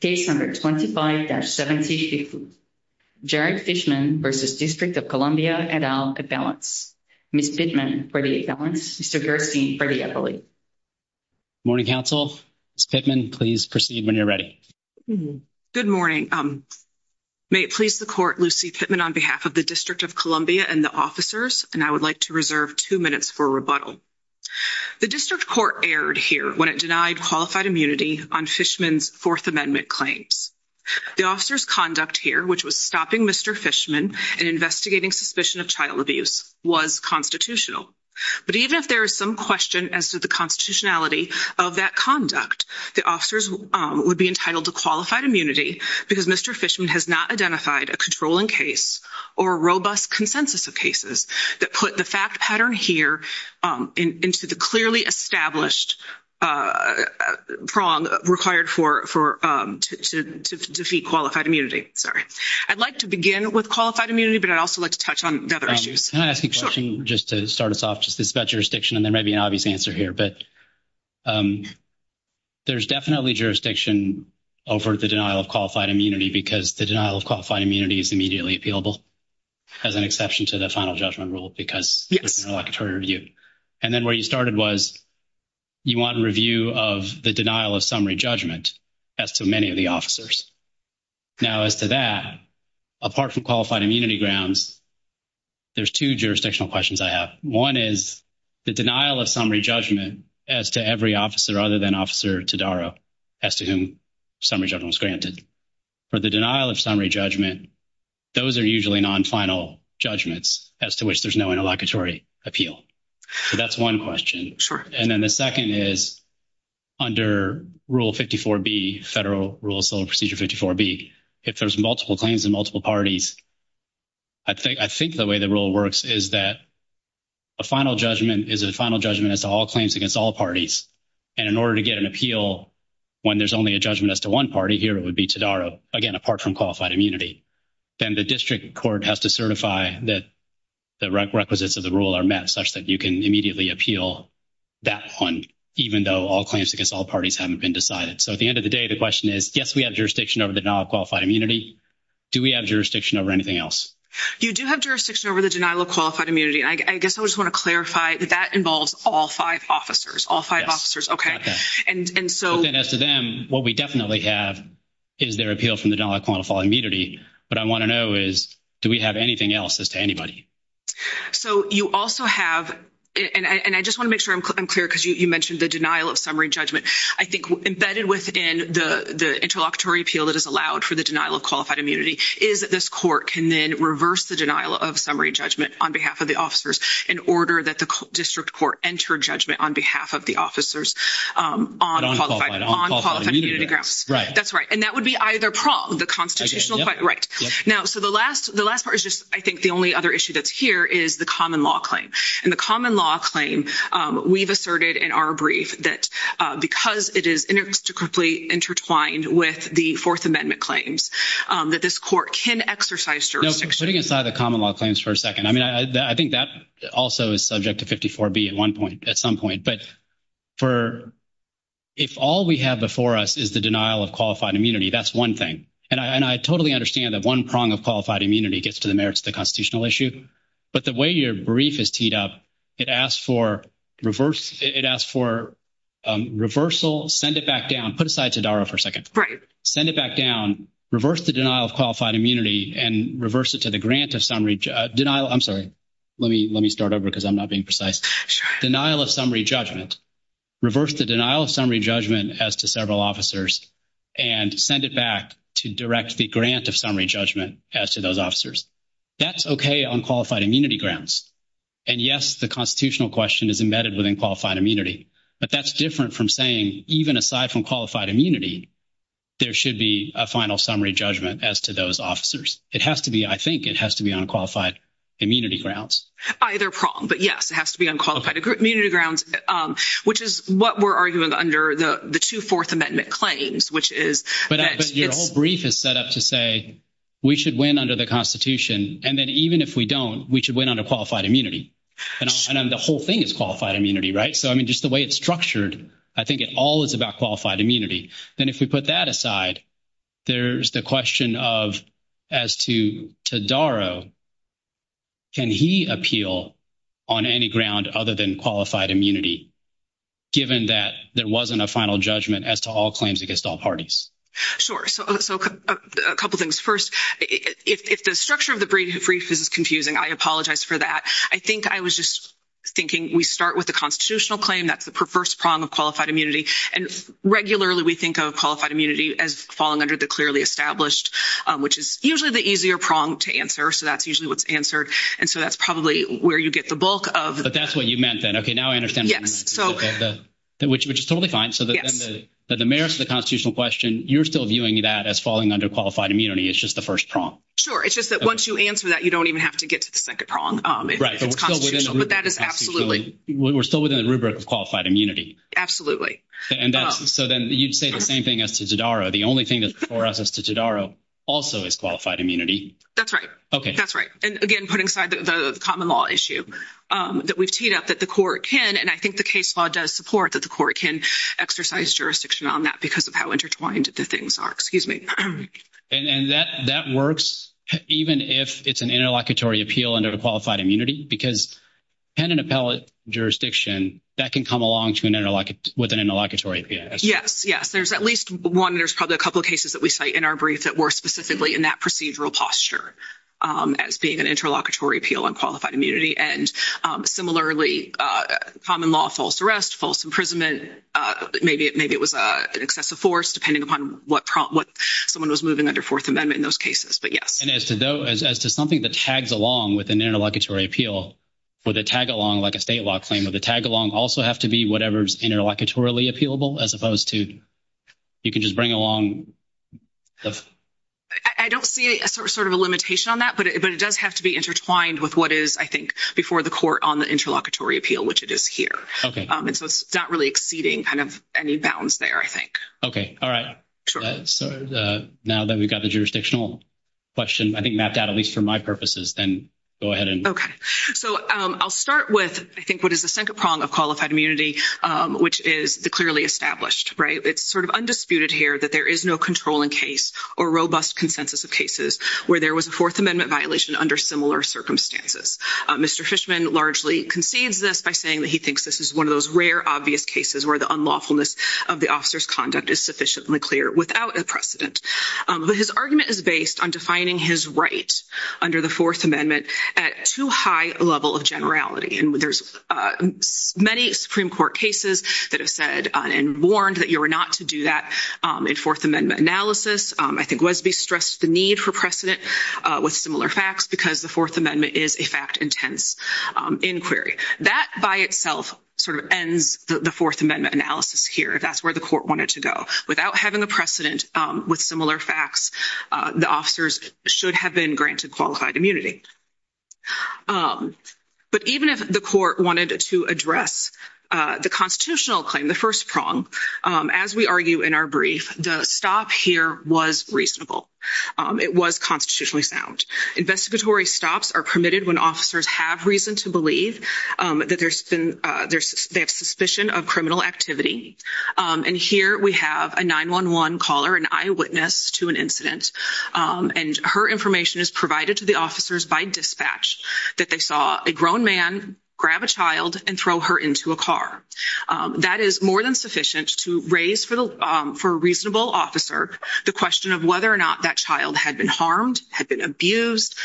Case 125-75, Jared Fishman v. District of Columbia et al. Appellants, Ms. Pittman for the appellants, Mr. Gerstein for the appellate. Morning, counsel. Ms. Pittman, please proceed when you're ready. Good morning. May it please the court, Lucy Pittman on behalf of the District of Columbia and the officers, and I would like to reserve two minutes for rebuttal. The District Court erred here when it denied qualified immunity on Fishman's Fourth Amendment claims. The officer's conduct here, which was stopping Mr. Fishman and investigating suspicion of child abuse, was constitutional. But even if there is some question as to the constitutionality of that conduct, the officers would be entitled to qualified immunity because Mr. Fishman has not identified a controlling case or robust consensus of cases that put the fact pattern here into the clearly established prong required to defeat qualified immunity. Sorry. I'd like to begin with qualified immunity, but I'd also like to touch on the other issues. Can I ask a question just to start us off? Just this about jurisdiction, and there may be an obvious answer here, but there's definitely jurisdiction over the denial of qualified immunity because the denial of qualified immunity is immediately appealable, as an exception to the interlocutory review. And then where you started was you want a review of the denial of summary judgment as to many of the officers. Now as to that, apart from qualified immunity grounds, there's two jurisdictional questions I have. One is the denial of summary judgment as to every officer other than Officer Todaro as to whom summary judgment was granted. For the denial of summary judgment, those are usually non-final judgments as to which there's no interlocutory appeal. So that's one question. Sure. And then the second is under Rule 54B, Federal Rule of Civil Procedure 54B, if there's multiple claims in multiple parties, I think the way the rule works is that a final judgment is a final judgment as to all claims against all parties. And in order to get an appeal when there's only a judgment as to one party, here it would be Todaro, again, apart from qualified immunity. Then the district court has to certify that the requisites of the rule are met such that you can immediately appeal that one even though all claims against all parties haven't been decided. So at the end of the day, the question is, yes, we have jurisdiction over the denial of qualified immunity. Do we have jurisdiction over anything else? You do have jurisdiction over the denial of qualified immunity. I guess I just want to clarify that that involves all five officers, all five officers. Okay. And so then as to them, what we definitely have is their appeal from the denial of qualified immunity. What I want to know is do we have anything else as to anybody? So you also have, and I just want to make sure I'm clear because you mentioned the denial of summary judgment. I think embedded within the interlocutory appeal that is allowed for the denial of qualified immunity is that this court can then reverse the denial of summary judgment on behalf of the officers in order that the district court entered judgment on behalf of the officers on qualified immunity grounds. That's right. And that would be either prong the constitutional right now. So the last, the last part is just, I think the only other issue that's here is the common law claim and the common law claim. We've asserted in our brief that because it is intricately intertwined with the fourth amendment claims that this court can exercise jurisdiction. Putting aside the common law claims for a second. I mean, I think that also is subject to 54 B at one point at some point, but for if all we have before us is the denial of qualified immunity, that's one thing. And I, and I totally understand that one prong of qualified immunity gets to the merits of the constitutional issue, but the way your brief is teed up, it asks for reverse. It asks for reversal, send it back down, put aside to Dara for a second, send it back down, reverse the denial of qualified immunity and reverse it to the grant of summary denial. I'm sorry, let me, let me start over because I'm not being precise denial of summary judgment, reverse the denial of summary judgment as to several officers and send it back to direct the grant of summary judgment as to those officers that's okay on qualified immunity grounds. And yes, the constitutional question is embedded within qualified immunity, but that's different from saying even aside from qualified immunity, there should be a final summary judgment as to those officers. It has to be, I think it has to be on qualified immunity grounds. Either prong, but yes, it has to be on qualified immunity grounds, which is what we're arguing under the two fourth amendment claims, which is. But your whole brief is set up to say we should win under the constitution. And then even if we don't, we should win on a qualified immunity and then the whole thing is qualified immunity, right? So, I mean, just the way it's structured, I think it all is about qualified immunity. Then if we put that aside, there's the question of as to, to Darrow, can he appeal on any ground other than qualified immunity, given that there wasn't a final judgment as to all claims against all parties. Sure. So a couple of things. First, if the structure of the brief is confusing, I apologize for that. I think I was just thinking we start with the constitutional claim. That's the perverse prong of qualified immunity. And regularly we think of qualified immunity as falling under the clearly established, which is usually the easier prong to answer. So that's usually what's answered. And so that's probably where you get the bulk of, but that's what you meant then. Okay. Now I understand. Yes. So which, which is totally fine. So that the merits of the constitutional question, you're still viewing that as falling under qualified immunity. It's just the first prong. Sure. It's just that once you answer that, you don't even have to get to the second prong. But that is absolutely, we're still within the rubric of qualified immunity. Absolutely. And that's, so then you'd say the same thing as to Darrow. The only thing that's for us as to Darrow also is qualified immunity. That's right. Okay. That's right. And again, putting aside the common law issue that we've teed up that the court can, and I think the case law does support that the court can exercise jurisdiction on that because of how intertwined the things are, excuse me. And, and that, that works even if it's an interlocutory appeal under the qualified immunity because pen and appellate jurisdiction that can come along to an interlocutory, with an interlocutory APS. Yes. Yes. There's at least one, there's probably a couple of cases that we cite in our brief that were specifically in that procedural posture as being an interlocutory appeal on qualified immunity. And similarly, common law, false arrest, false imprisonment. Maybe it, maybe it was an excessive force depending upon what someone was moving under fourth amendment in those cases, but yes. And as to something that tags along with an interlocutory appeal with a tag along, like a state law claim with a tag along also have to be whatever's interlocutory appealable, as opposed to you can just bring along. I don't see a sort of a limitation on that, but it does have to be intertwined with what is, I think, before the court on the interlocutory appeal, which it is here. Okay. And so it's not really exceeding kind of any bounds there, I think. Okay. All right. So now that we've got the jurisdictional question, I think mapped out, at least for my purposes, then go ahead and. Okay. So I'll start with, I think, what is the second prong of qualified immunity, which is the clearly established, right? It's sort of undisputed here that there is no controlling case or robust consensus of cases where there was a fourth amendment violation under similar circumstances. Mr. Fishman largely concedes this by saying that he thinks this is one of those rare, obvious cases where the lawfulness of the officer's conduct is sufficiently clear without a precedent. But his argument is based on defining his right under the fourth amendment at too high a level of generality. And there's many Supreme Court cases that have said and warned that you were not to do that in fourth amendment analysis. I think Wesby stressed the need for precedent with similar facts because the fourth amendment is a fact intense inquiry. That by itself sort of the fourth amendment analysis here. That's where the court wanted to go without having a precedent with similar facts. The officers should have been granted qualified immunity. But even if the court wanted to address the constitutional claim, the first prong, as we argue in our brief, the stop here was reasonable. It was constitutionally sound. Investigatory stops are permitted when officers have reason to believe that there's been, they have suspicion of criminal activity. And here we have a 911 caller, an eyewitness to an incident. And her information is provided to the officers by dispatch that they saw a grown man grab a child and throw her into a car. That is more than sufficient to raise for a reasonable officer the question of whether or not that child had been harmed, had been abused,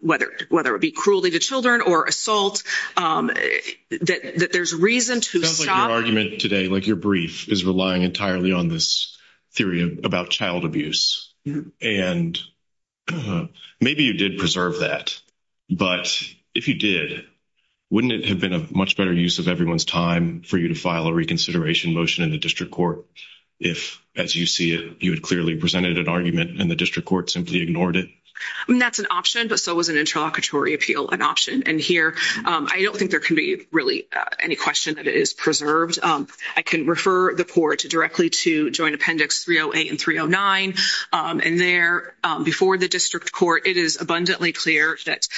whether it be cruelly to children or assault, that there's reason to stop. Sounds like your argument today, like your brief, is relying entirely on this theory about child abuse. And maybe you did preserve that. But if you did, wouldn't it have been a much better use of everyone's time for you to file a reconsideration motion in the district court if, as you see it, you had clearly presented an argument and the district court simply ignored it? That's an option, but so was an interlocutory appeal an option. And here, I don't think there can be really any question that it is preserved. I can refer the court directly to Joint Appendix 308 and 309. And there, before the district court, it is abundantly clear that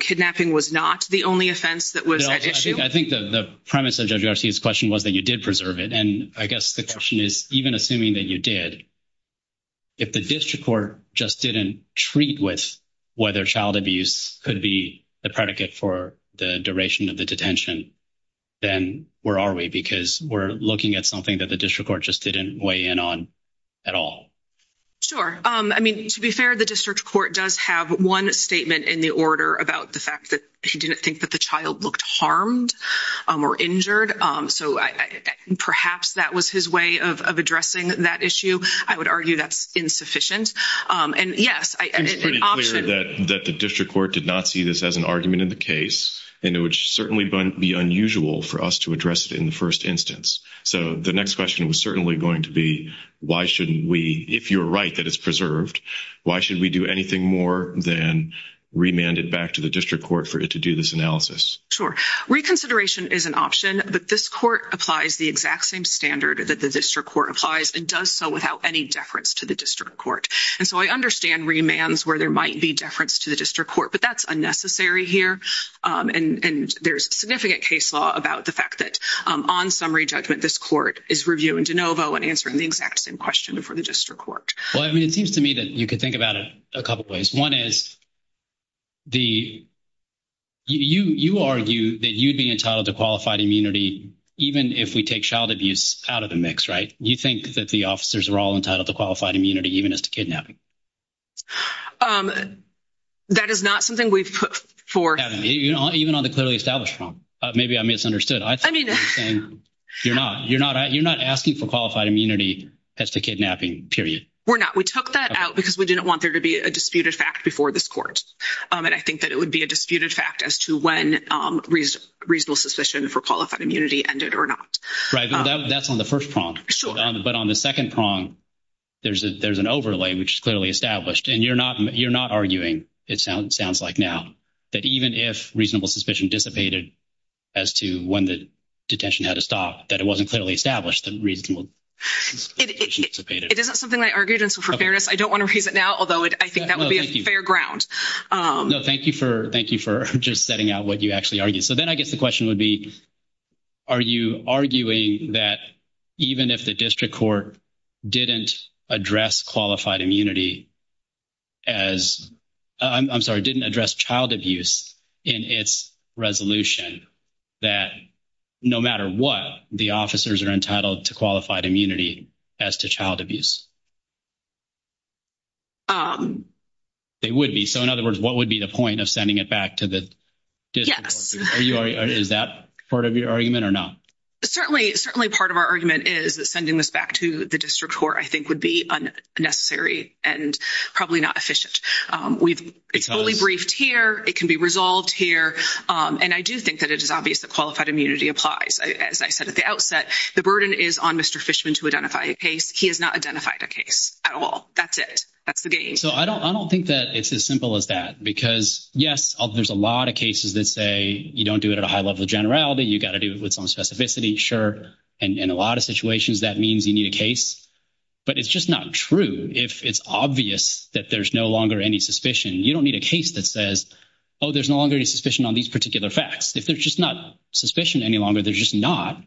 kidnapping was not the only offense that was at issue. I think the premise of Judge Garcia's question was that you did preserve it. And I guess the question is, even assuming that you did, if the district court just didn't treat with whether child abuse could be the predicate for the duration of the detention, then where are we? Because we're looking at something that the district court just didn't weigh in on at all. Sure. I mean, to be fair, the district court does have one statement in the order about the fact that he didn't think that the child looked harmed or injured. So perhaps that was his way of addressing that issue. I would argue that's insufficient. And yes, an option- It's pretty clear that the district court did not see this as an argument in the case, and it would certainly be unusual for us to address it in the first instance. So the next question was certainly going to be, if you're right that it's preserved, why should we do anything more than remand it back to the district court for it to do this analysis? Sure. Reconsideration is an option, but this court applies the exact same standard that the district court applies and does so without any deference to the district court. And so I understand remands where there might be deference to the district court, but that's unnecessary here. And there's significant case law about the fact that on summary judgment, this court is reviewing DeNovo and answering the exact same question for the district court. Well, I mean, it seems to me that you could think about it a couple of ways. One is, you argue that you'd be entitled to qualified immunity even if we take child abuse out of the mix, right? You think that the officers are all entitled to qualified immunity even as to kidnapping? That is not something we've put for- Even on the clearly established form. Maybe I misunderstood. I think you're saying, you're not asking for qualified immunity as to kidnapping, period. We're not. We took that out because we didn't want there to be a disputed fact before this court. And I think that it would be a disputed fact as to when reasonable suspicion for qualified immunity ended or not. Right. That's on the first prong. But on the second prong, there's an overlay, which is clearly established. And you're not arguing, it sounds like now, that even if reasonable suspicion dissipated as to when the detention had to stop, that it wasn't clearly established that reasonable suspicion dissipated. It isn't something I argued. And so for fairness, I don't want to raise it now, although I think that would be a fair ground. No, thank you for just setting out what you actually argued. So then I guess the question would be, are you arguing that even if the district court didn't address qualified immunity as, I'm sorry, didn't address child abuse in its resolution, that no matter what, the officers are entitled to qualified immunity as to child abuse? They would be. So in other words, what would be the point of sending it back to the district? Yes. Is that part of your argument or not? Certainly part of our argument is that sending this back to the district court, I think, would be unnecessary and probably not efficient. It's fully briefed here. It can be resolved here. And I do think that it is obvious that qualified immunity applies. As I said at the outset, the burden is on Mr. Fishman to identify a case. He has not identified a case at all. That's it. That's the game. So I don't think that it's as simple as that. Because yes, there's a lot of cases that say you don't do it at a high level of generality. You've got to do it with some specificity. Sure. And in a lot of situations, that means you need a case. But it's just not true if it's obvious that there's no longer any suspicion. You don't need a case that says, oh, there's no longer any suspicion on these particular facts. If there's just not suspicion any longer, there's just not.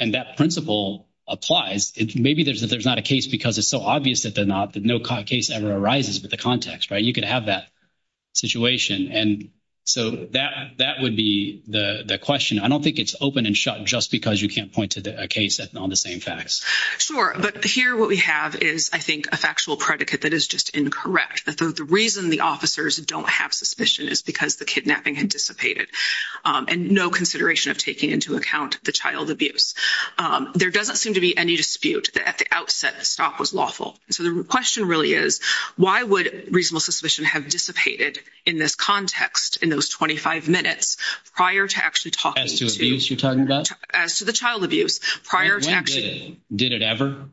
And that principle applies. Maybe there's not a case because it's so obvious that no case ever arises with the context, right? You could have that situation. And so that would be the question. I don't think it's open and shut just because you can't point to a case on the same facts. Sure. But here what we have is, I think, factual predicate that is just incorrect. The reason the officers don't have suspicion is because the kidnapping had dissipated. And no consideration of taking into account the child abuse. There doesn't seem to be any dispute that at the outset, the stop was lawful. So the question really is, why would reasonable suspicion have dissipated in this context in those 25 minutes prior to actually talking to- As to abuse you're talking about? As to the child abuse prior to actually- When did it? Did it ever?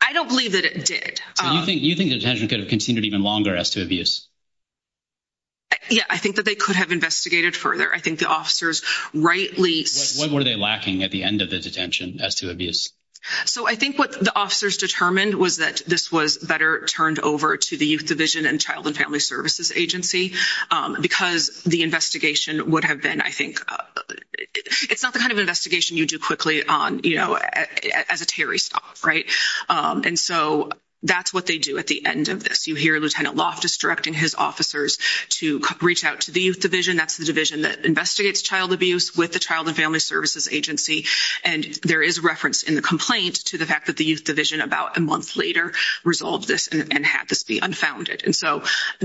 I don't believe that it did. So you think the detention could have continued even longer as to abuse? Yeah, I think that they could have investigated further. I think the officers rightly- What were they lacking at the end of the detention as to abuse? So I think what the officers determined was that this was better turned over to the Youth Division and Child and Family Services Agency because the investigation would have been, I think, it's not the kind of investigation you quickly do as a Terry stop. And so that's what they do at the end of this. You hear Lieutenant Loftus directing his officers to reach out to the Youth Division. That's the division that investigates child abuse with the Child and Family Services Agency. And there is reference in the complaint to the fact that the Youth Division about a month later resolved this and had this be unfounded.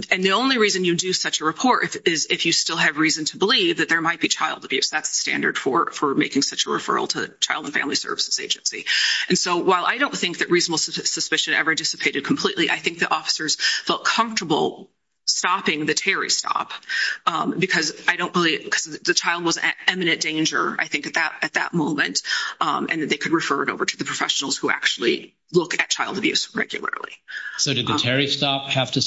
And the only reason you do such a report is if you still have reason to believe that there might be child abuse. That's the standard for making such a referral to the Child and Family Services Agency. And so while I don't think that reasonable suspicion ever dissipated completely, I think the officers felt comfortable stopping the Terry stop because I don't believe- because the child was at imminent danger, I think, at that moment and that they could refer it over to the professionals who actually look at child abuse regularly. So did the Terry stop have to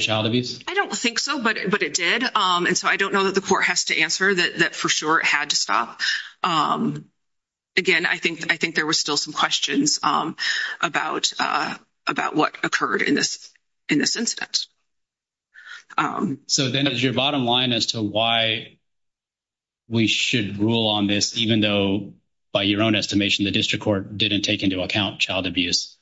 child abuse? I don't think so, but it did. And so I don't know that the court has to answer that for sure it had to stop. Again, I think there were still some questions about what occurred in this incident. So then is your bottom line as to why we should rule on this, even though by your own estimation, the district court didn't take into account child abuse,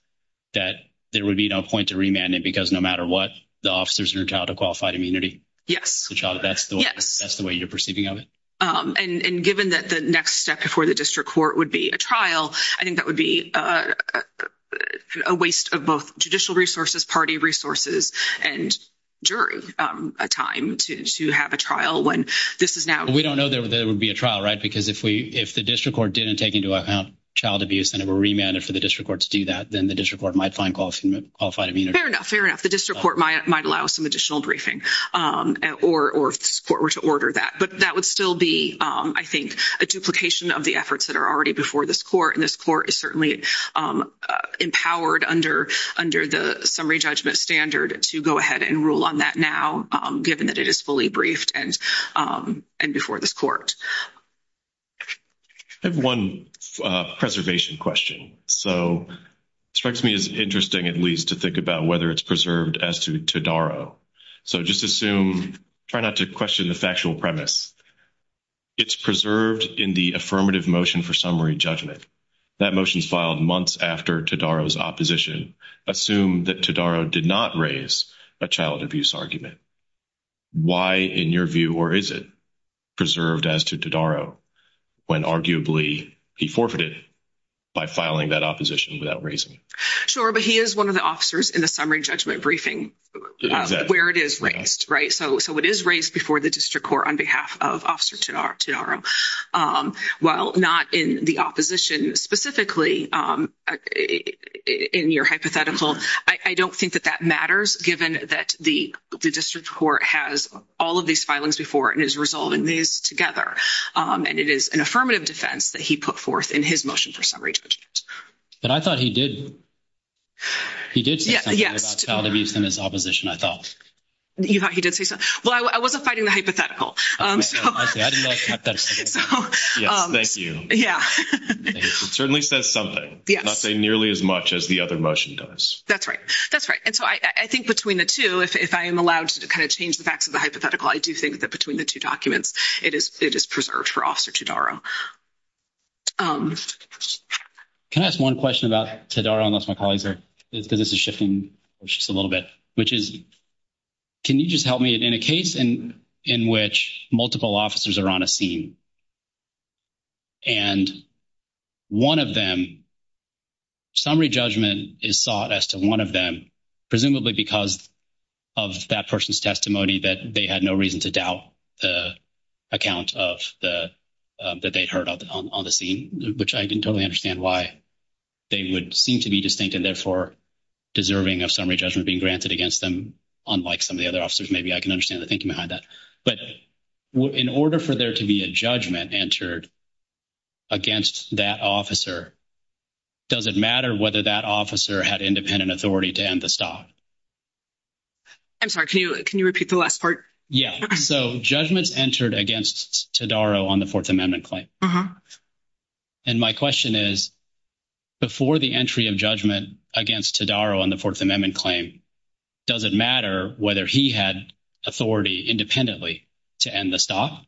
that there would be no to remand it because no matter what, the officers are entitled to qualified immunity? Yes. That's the way you're perceiving of it? And given that the next step before the district court would be a trial, I think that would be a waste of both judicial resources, party resources, and jury time to have a trial when this is now- We don't know there would be a trial, right? Because if the district court didn't take into account child abuse and it were remanded for the district court to do that, then the district court might find qualified immunity. Fair enough. The district court might allow some additional briefing or if the court were to order that. But that would still be, I think, a duplication of the efforts that are already before this court. And this court is certainly empowered under the summary judgment standard to go ahead and rule on that now, given that it is fully briefed and before this court. I have one preservation question. So it strikes me as interesting, at least, to think about whether it's preserved as to Todaro. So just assume, try not to question the factual premise. It's preserved in the affirmative motion for summary judgment. That motion is filed months after Todaro's opposition. Assume that Todaro did not raise a child abuse argument. Why, in your view, or is it Todaro when arguably he forfeited by filing that opposition without raising? Sure. But he is one of the officers in the summary judgment briefing where it is raised, right? So it is raised before the district court on behalf of Officer Todaro. While not in the opposition, specifically in your hypothetical, I don't think that that matters, given that the district court has all of these filings before and is resolving these together. And it is an affirmative defense that he put forth in his motion for summary judgment. But I thought he did. He did say something about child abuse in his opposition, I thought. You thought he did say something? Well, I wasn't fighting the hypothetical. Yes, thank you. It certainly says something, not say nearly as much as the other motion does. That's right. That's right. And so I think between the two, if I am allowed to kind of change the facts of the hypothetical, I do think that between the two documents, it is preserved for Officer Todaro. Can I ask one question about Todaro, unless my colleagues are, because this is shifting just a little bit, which is, can you just help me in a case in which multiple officers are on a scene and one of them, summary judgment is sought as to one of them, presumably because of that person's testimony, that they had no reason to doubt the account of the, that they'd heard on the scene, which I can totally understand why they would seem to be distinct and therefore deserving of summary judgment being granted against them, unlike some of the other officers. Maybe I can understand the thinking behind that. But in order for there to be a judgment entered against that officer, does it matter whether that officer had independent authority to end the stop? I'm sorry, can you, can you repeat the last part? Yeah. So judgments entered against Todaro on the Fourth Amendment claim. And my question is, before the entry of judgment against Todaro on the Fourth Amendment claim, does it matter whether he had authority independently to end the stop?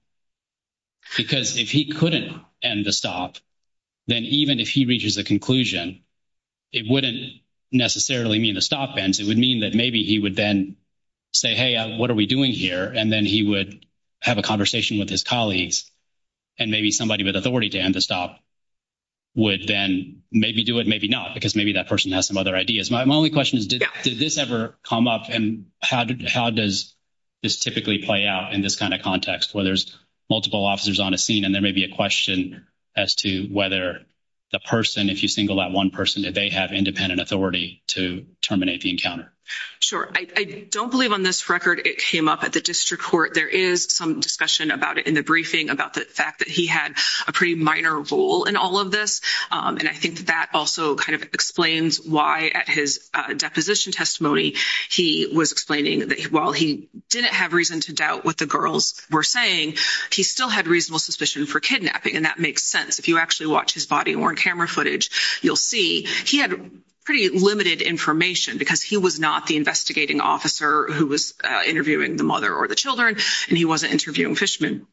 Because if he couldn't end the stop, then even if he reaches a conclusion, it wouldn't necessarily mean the stop ends. It would mean that maybe he would then say, hey, what are we doing here? And then he would have a conversation with his colleagues. And maybe somebody with authority to end the stop would then maybe do it, maybe not, because maybe that person has some other ideas. My only question is, did this ever come up? And how does this typically play out in this kind of context where there's multiple officers on a scene and there may be a question as to whether the person, if you single out one person, did they have independent authority to terminate the encounter? Sure. I don't believe on this record it came up at the district court. There is some discussion about it in the briefing about the fact that he had a pretty minor role in all of this. And I think that also kind of explains why at his deposition testimony he was explaining that while he didn't have reason to doubt what the girls were saying, he still had reasonable suspicion for kidnapping. And that makes sense. If you actually watch his body-worn camera footage, you'll see he had pretty limited information because he was not the investigating officer who was interviewing the mother or the children, and he wasn't interviewing Fishman.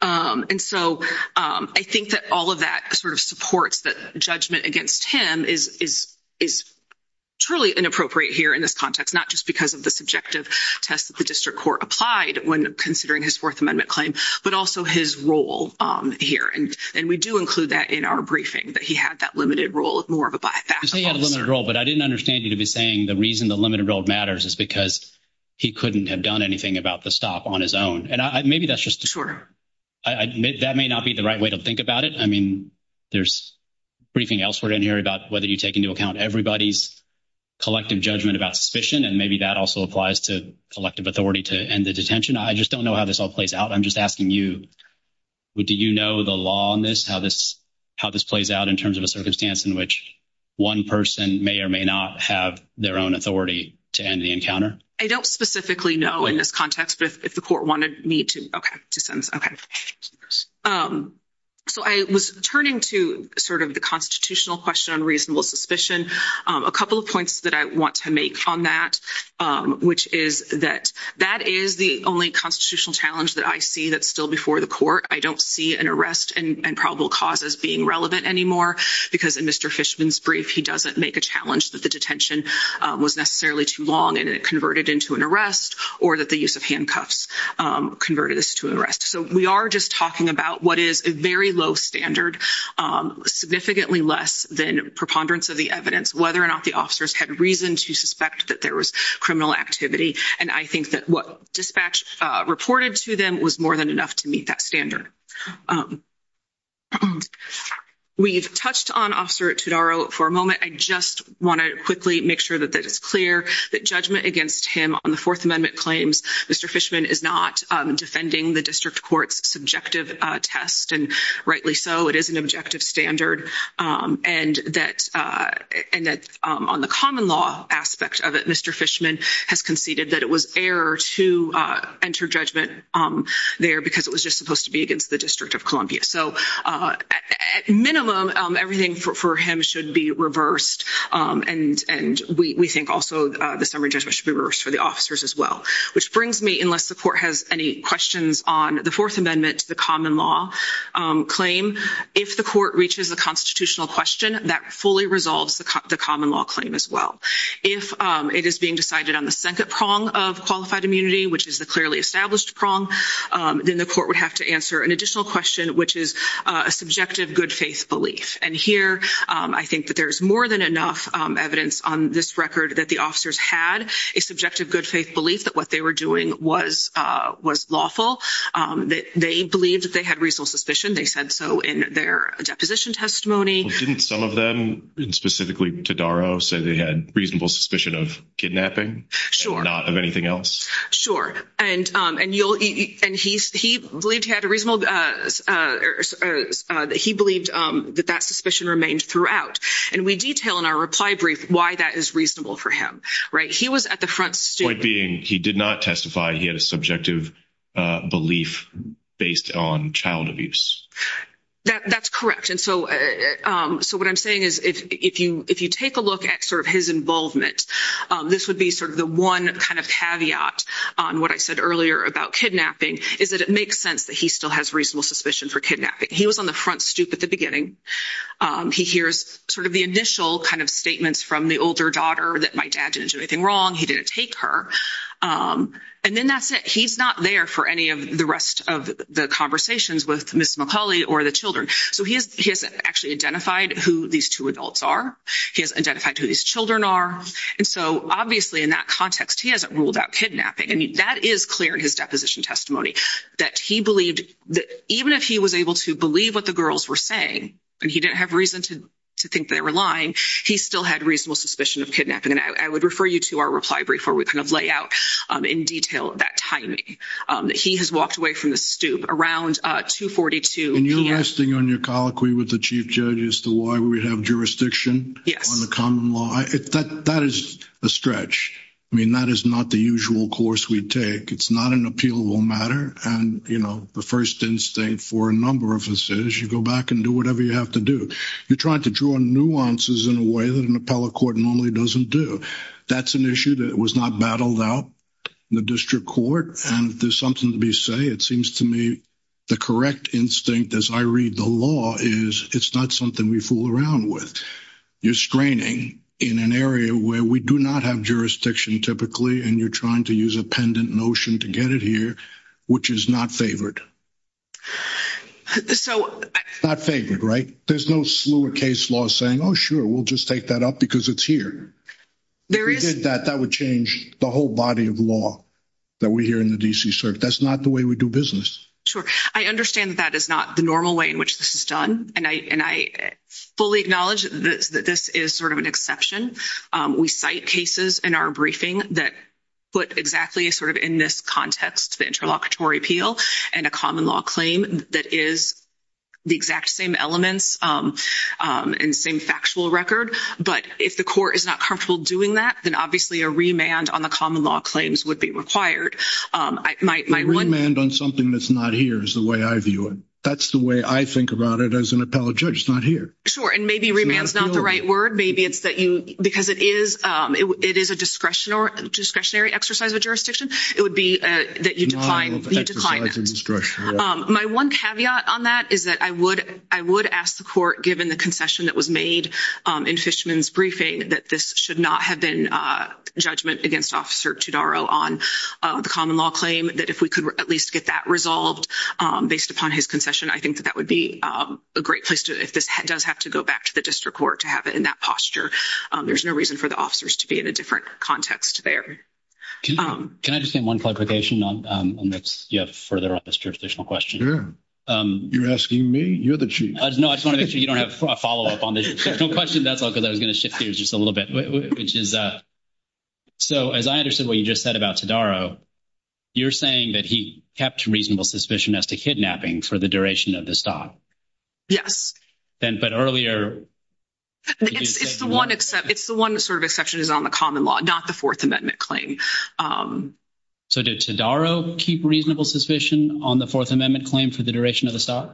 And so I think that all of that sort of supports that judgment against him is truly inappropriate here in this context, not just because of the subjective test that the district court applied when considering his Fourth Amendment claim, but also his role here. And we do include that in our briefing, that he had that limited role of more of a backup officer. You say he had a limited role, but I didn't understand you to be saying the reason the limited role matters is because he couldn't have done anything about the stop on his own. And maybe that's just... Sure. That may not be the right way to think about it. I mean, there's briefing elsewhere in here about whether you take into account everybody's collective judgment about suspicion, and maybe that also applies to collective authority to end the detention. I just don't know how this all plays out. I'm just asking you, do you know the law on this, how this plays out in terms of a circumstance in which one person may or may not have their own authority to end the encounter? I don't specifically know in this context, but if the court wanted me to... Okay. So I was turning to sort of the constitutional question on reasonable suspicion. A couple of points that I want to make on that, which is that that is the only constitutional challenge that I see that's still before the court. I don't see an arrest and probable causes being relevant anymore because in Mr. Fishman's brief, he doesn't make a challenge that the detention was necessarily too long and it converted into an arrest or that the use of handcuffs converted this to an arrest. So we are just talking about what is a very low standard, significantly less than preponderance of the evidence, whether or not the officers had reason to suspect that there was criminal activity. And I think that what dispatch reported to them was more than enough to meet that standard. We've touched on Officer Tutaro for a moment. I just want to quickly make sure that that is clear, that judgment against him on the Fourth Amendment claims Mr. Fishman is not defending the district court's subjective test. And rightly so, it is an objective standard. And that on the common law aspect of it, Mr. Fishman has conceded that it was error to enter judgment there because it was just supposed to be against the District of Columbia. So at minimum, everything for him should be reversed. And we think also the summary judgment should be reversed for the officers as well. Which brings me, unless the court has any questions on the Fourth Amendment to the common law claim, if the court reaches a constitutional question, that fully resolves the common law claim as well. If it is being decided on the second prong of qualified immunity, which is the clearly established prong, then the court would have to an additional question, which is a subjective good faith belief. And here I think that there's more than enough evidence on this record that the officers had a subjective good faith belief that what they were doing was lawful, that they believed that they had reasonable suspicion. They said so in their deposition testimony. Didn't some of them, and specifically Tutaro, say they had reasonable suspicion of kidnapping? Sure. Not of anything else? Sure. And he believed that that suspicion remained throughout. And we detail in our reply brief why that is reasonable for him. He was at the front... Point being, he did not testify. He had a subjective belief based on child abuse. That's correct. And so what I'm saying is if you take a look at sort of his involvement, this would be sort of the one kind of caveat on what I said earlier about kidnapping, is that it makes sense that he still has reasonable suspicion for kidnapping. He was on the front stoop at the beginning. He hears sort of the initial kind of statements from the older daughter that my dad didn't do anything wrong. He didn't take her. And then that's it. He's not there for any of the rest of the conversations with Ms. McCauley or the children. So he hasn't actually identified who these two adults are. He hasn't identified who these children are. And so obviously in that context, he hasn't ruled out kidnapping. And that is clear in his deposition testimony, that he believed that even if he was able to believe what the girls were saying, and he didn't have reason to think they were lying, he still had reasonable suspicion of kidnapping. And I would refer you to our reply brief where we kind of lay out in detail that timing. He has walked away from the stoop around 2.42 p.m. You're resting on your colloquy with the chief judge as to why we have jurisdiction on the common law. That is a stretch. I mean, that is not the usual course we take. It's not an appealable matter. And the first instinct for a number of us is you go back and do whatever you have to do. You're trying to draw nuances in a way that an appellate court normally doesn't do. That's an issue that was not battled out in the district court. And if there's something to be it seems to me the correct instinct as I read the law is it's not something we fool around with. You're straining in an area where we do not have jurisdiction typically, and you're trying to use a pendant notion to get it here, which is not favored. So not favored, right? There's no slur case law saying, oh, sure, we'll just take that up because it's here. There is that that would change the whole body of law that we hear in the D.C. That's not the way we do business. Sure. I understand that that is not the normal way in which this is done. And I fully acknowledge that this is sort of an exception. We cite cases in our briefing that put exactly sort of in this context the interlocutory appeal and a common law claim that is the exact same elements and same factual record. But if the court is not comfortable doing that, then obviously a remand on the common law claims would be required. My remand on something that's not here is the way I view it. That's the way I think about it as an appellate judge. It's not here. Sure. And maybe remand is not the right word. Maybe it's that you because it is it is a discretionary exercise of jurisdiction. It would be that you decline. My one caveat on that is that I would I would ask the court, given the concession that was made in Fishman's briefing, that this should not have been judgment against Officer Todaro on the common law claim, that if we could at least get that resolved based upon his concession, I think that that would be a great place to if this does have to go back to the district court to have it in that posture. There's no reason for the officers to be in a different context there. Can I just say one clarification on that? You have further on this jurisdictional question. You're asking me? You're the chief. No, I just want to make sure you don't have a follow up on the question. That's all because I was going to shift gears just a little bit, which is. So as I understood what you just said about Todaro, you're saying that he kept reasonable suspicion as to kidnapping for the duration of the stop. Yes. Then. But earlier, it's the one except it's the one that sort of exception is on the common law, not the Fourth Amendment claim. So did Todaro keep reasonable suspicion on the Fourth Amendment claim for the exception of the common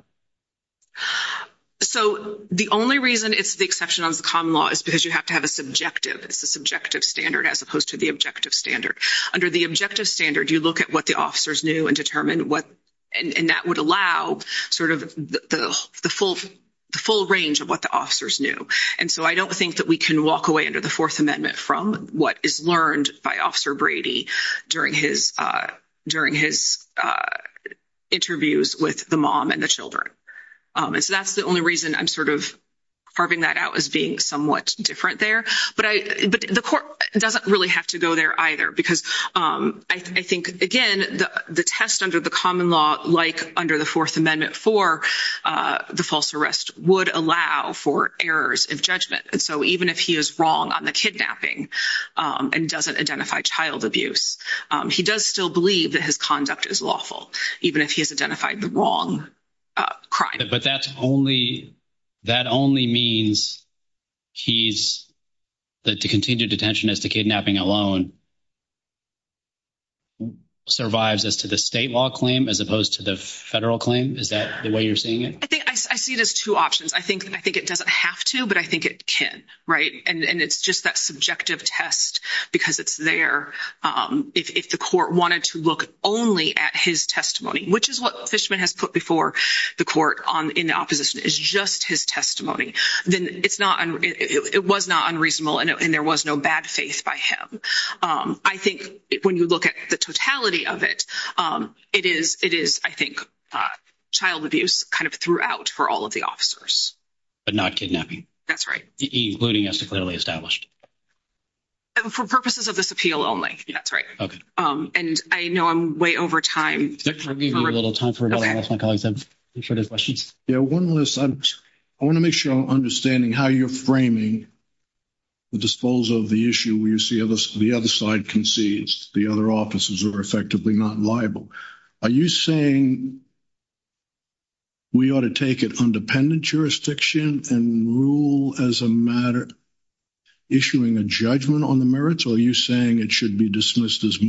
law? It's because you have to have a subjective. It's a subjective standard as opposed to the objective standard. Under the objective standard, you look at what the officers knew and determine what and that would allow sort of the full the full range of what the officers knew. And so I don't think that we can walk away under the Fourth Amendment from what is learned by Officer Brady during his during his interviews with the mom and the children. So that's the only reason I'm sort of carving that out as being somewhat different there. But the court doesn't really have to go there either, because I think, again, the test under the common law, like under the Fourth Amendment for the false arrest would allow for errors of judgment. And so even if he is wrong on the kidnapping and doesn't identify child abuse, he does still believe that his conduct is lawful, even if he has identified the wrong crime. But that's only that only means he's that to continue detention as to kidnapping alone. Survives as to the state law claim as opposed to the federal claim. Is that the way you're seeing it? I think I see it as two options. I think I think it doesn't have to, but I think it can. Right. And it's just that subjective test because it's there. If the court wanted to look only at his testimony, which is what Fishman has put before the court on in opposition is just his testimony, then it's not it was not unreasonable and there was no bad faith by him. I think when you look at the totality of it, it is it is, I think, child abuse kind of throughout for all of the officers, but not kidnapping. That's right. Including as to clearly established. And for purposes of this appeal only, that's right. Okay. And I know I'm way over time. A little time for my colleagues. I'm sure there's questions. Yeah, one list. I want to make sure I'm understanding how you're framing. The disposal of the issue where you see the other side concedes the other offices are effectively not liable. Are you saying? We ought to take it on dependent jurisdiction and rule as a matter. Issuing a judgment on the merits. Are you saying it should be dismissed as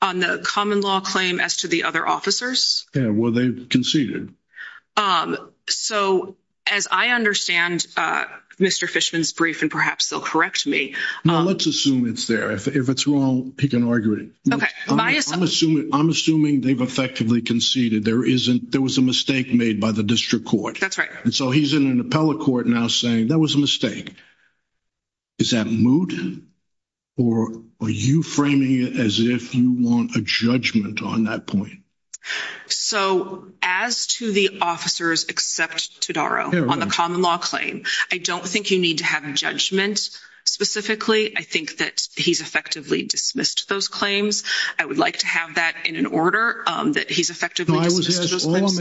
on the common law claim as to the other officers? Well, they conceded. So, as I understand Mr Fishman's brief, and perhaps they'll correct me. Let's assume it's there. If it's wrong, he can argue it. Okay. I'm assuming I'm assuming they've effectively conceded. There isn't. There was a mistake made by the district court. That's right. And so he's in an appellate court now saying that was a mistake. Is that mood or are you framing it as if you want a judgment on that point? So, as to the officers, except to Daro on the common law claim, I don't think you need to have a judgment specifically. I think that he's effectively dismissed those claims. I would like to have that in an order that he's effectively. All I'm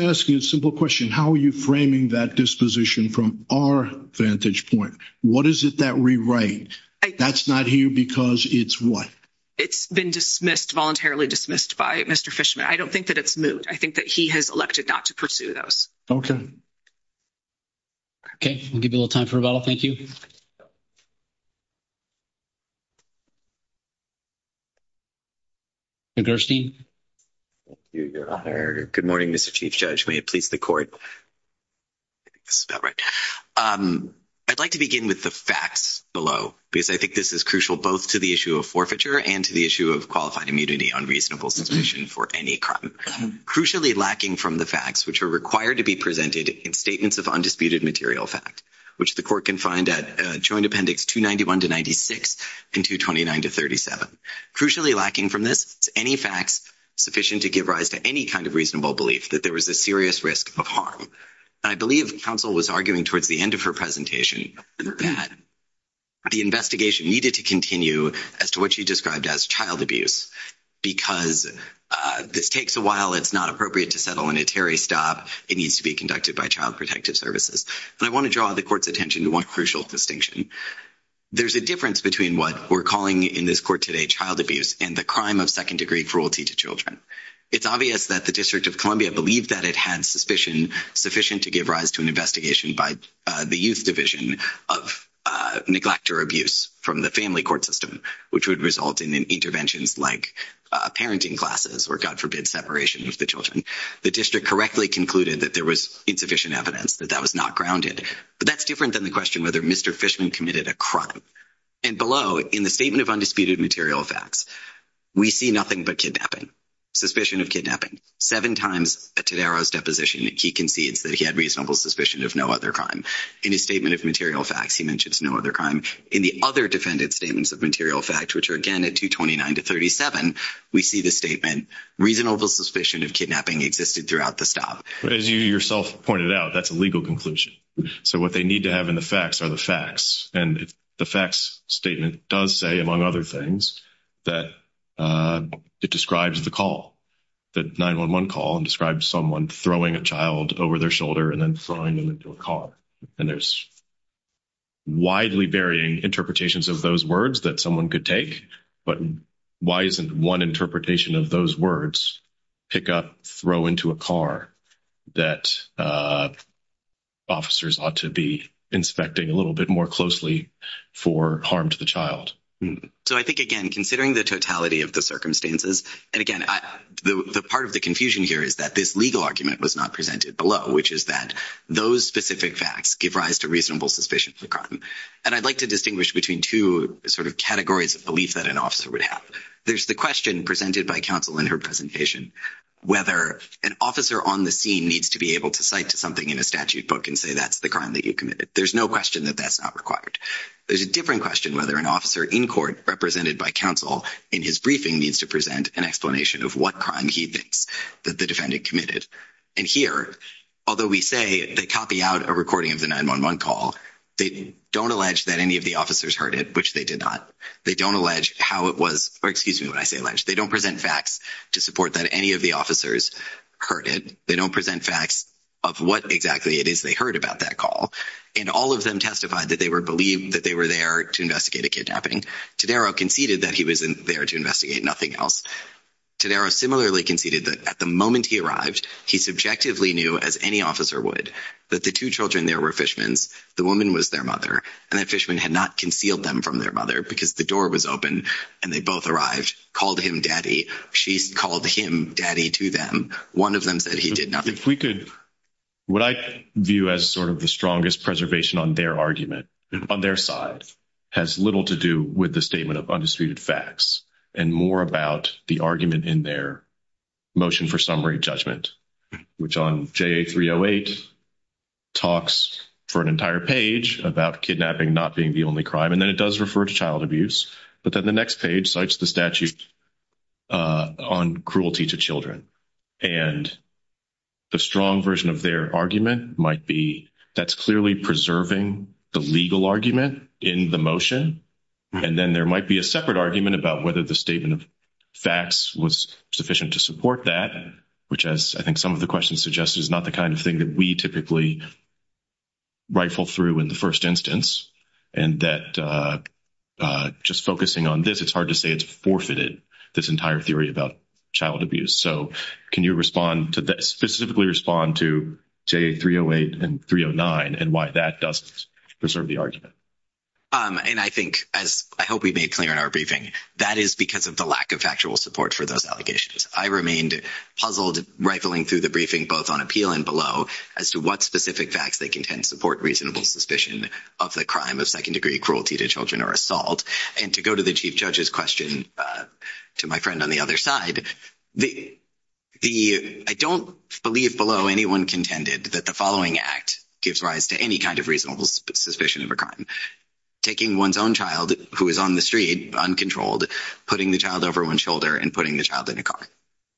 asking is a simple question. How are you framing that disposition from our vantage point? What is it that rewrite? That's not here because it's what? It's been dismissed, voluntarily dismissed by Mr. Fishman. I don't think that it's moot. I think that he has elected not to pursue those. Okay. Okay. I'll give you a little time for rebuttal. Thank you. Good morning, Mr. Chief Judge. May it please the court. I think this is about right. I'd like to begin with the facts below because I think this is crucial both to the issue of forfeiture and to the issue of qualified immunity on reasonable suspicion for any crime. Crucially lacking from the facts which are required to be presented in statements of undisputed material fact, which the court can find at joint appendix 291 to 96 and 229 to 37. Crucially lacking from this, any facts sufficient to give rise to any kind of reasonable belief that there was a serious risk of harm. I believe counsel was arguing towards the end of her presentation that the investigation needed to continue as to what she described as child abuse because this takes a while. It's not appropriate to settle in a Terry stop. It needs to be conducted by Child Protective Services. And I want to draw the court's attention to one crucial distinction. There's a difference between what we're calling in this court today, child abuse and the crime of second degree cruelty to children. It's obvious that the district of Columbia believed that it had suspicion sufficient to give rise to an investigation by the youth division of neglect or abuse from the family court system, which would result in interventions like parenting classes or God forbid separation of the children. The district correctly concluded that there was insufficient evidence that that was not grounded. But that's different than the question whether Mr. Fishman committed a crime and below in the statement of undisputed material facts, we see nothing but kidnapping, suspicion of kidnapping seven times at today's deposition. He concedes that he had reasonable suspicion of no other crime in his statement of material facts. He mentions no other crime in the other defendant statements of material fact, which are again at 229 to 37. We see the statement reasonable suspicion of kidnapping existed throughout the stop. But as you yourself pointed out, that's a legal conclusion. So what they need to have in the facts are the facts. And the facts statement does say, among other things, that it describes the call that 911 call and described someone throwing a child over their shoulder and then throwing them into a car. And there's. Widely varying interpretations of those words that someone could take. But why isn't one interpretation of those words pick up, throw into a car that officers ought to be inspecting a little bit more closely for harm to the child? So I think, again, considering the totality of the circumstances and again, the part of the confusion here is that this legal argument was not presented below, which is that those specific facts give rise to reasonable suspicion for crime. And I'd like to distinguish between two sort of categories of belief that an officer would have. There's the question presented by counsel in her presentation, whether an officer on the scene needs to be able to cite to something in a statute book and say, that's the crime that you committed. There's no question that that's not required. There's a different question, whether an officer in court represented by counsel in his briefing needs to present an explanation of what crime he thinks that the defendant committed. And here, although we say they copy out a recording of the 911 call, they don't allege that any of the officers heard it, which they did not. They don't allege how it was, or excuse me when I say alleged, they don't present facts to support that any of the officers heard it. They don't present facts of what exactly it is they heard about that call. And all of them testified that they were believed that they were there to investigate a kidnapping. Tadaro conceded that he wasn't there to investigate nothing else. Tadaro similarly conceded that at the moment he arrived, he subjectively knew, as any officer would, that the two children there were Fishman's, the woman was their mother, and that Fishman had not concealed them from their mother because the door was open and they both arrived, called him daddy. She called him daddy to them. One of them said he did not. If we could, what I view as sort of the strongest preservation on their argument, on their side, has little to do with the statement of undisputed facts and more about the argument in their motion for summary judgment, which on JA-308 talks for an entire page about kidnapping not being the only crime, and then it does refer to child abuse, but then the next page cites the statute on cruelty to children. And the strong version of their argument might be that's clearly preserving the legal argument in the motion, and then there might be a separate argument about whether the statement of facts was sufficient to support that, which, as I think some of the questions suggest, is not the kind of thing that we typically rifle through in the first instance, and that just focusing on this, it's hard to say it's forfeited, this entire theory about child abuse. So can you respond to this, specifically respond to JA-308 and 309, and why that doesn't preserve the argument? And I think, as I hope we made clear in our briefing, that is because of the lack of factual support for those allegations. I remained puzzled rifling through the briefing, both on appeal and below, as to what specific facts they contend support reasonable suspicion of the crime of second-degree cruelty to children or assault. And to go to the Chief Judge's question to my friend on the other side, I don't believe below anyone contended that the following act gives rise to any kind of reasonable suspicion of a crime. Taking one's own child who is on the street uncontrolled, putting the child over one's shoulder, and putting the child in a car.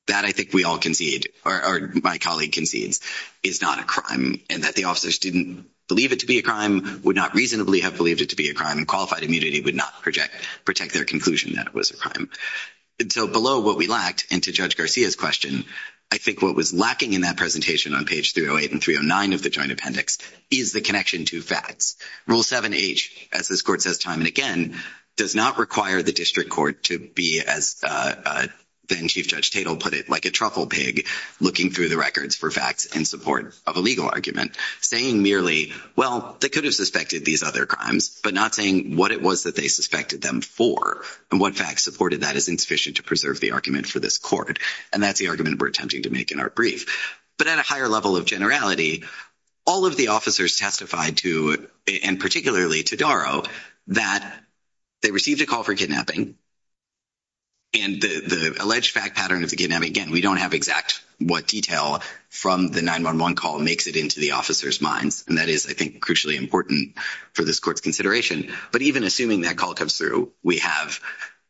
That, I think we all concede, or my colleague concedes, is not a crime, and that the officers didn't believe it to be a crime, would not reasonably have believed it to be a crime, and qualified immunity would not protect their conclusion that it was a crime. And so below what we lacked, and to Judge Garcia's question, I think what was lacking in that presentation on page 308 and 309 of the Joint Appendix, is the connection to facts. Rule 7H, as this Court says time and again, does not require the District Court to be as then-Chief Judge Tatel put it, like a truffle pig, looking through the records for facts in support of a legal argument, saying merely, well, they could have suspected these other crimes, but not saying what it was that they suspected them for, and what facts supported that is insufficient to preserve the argument for this Court. And that's the argument we're attempting to make in our brief. But at a higher level of generality, all of the officers testified to, and particularly to Darrow, that they received a call for kidnapping, and the alleged fact pattern of the kidnapping, again, we don't have exact what detail from the 911 call makes it into the officers' minds, and that is, I think, crucially important for this Court's consideration. But even assuming that call comes through, we have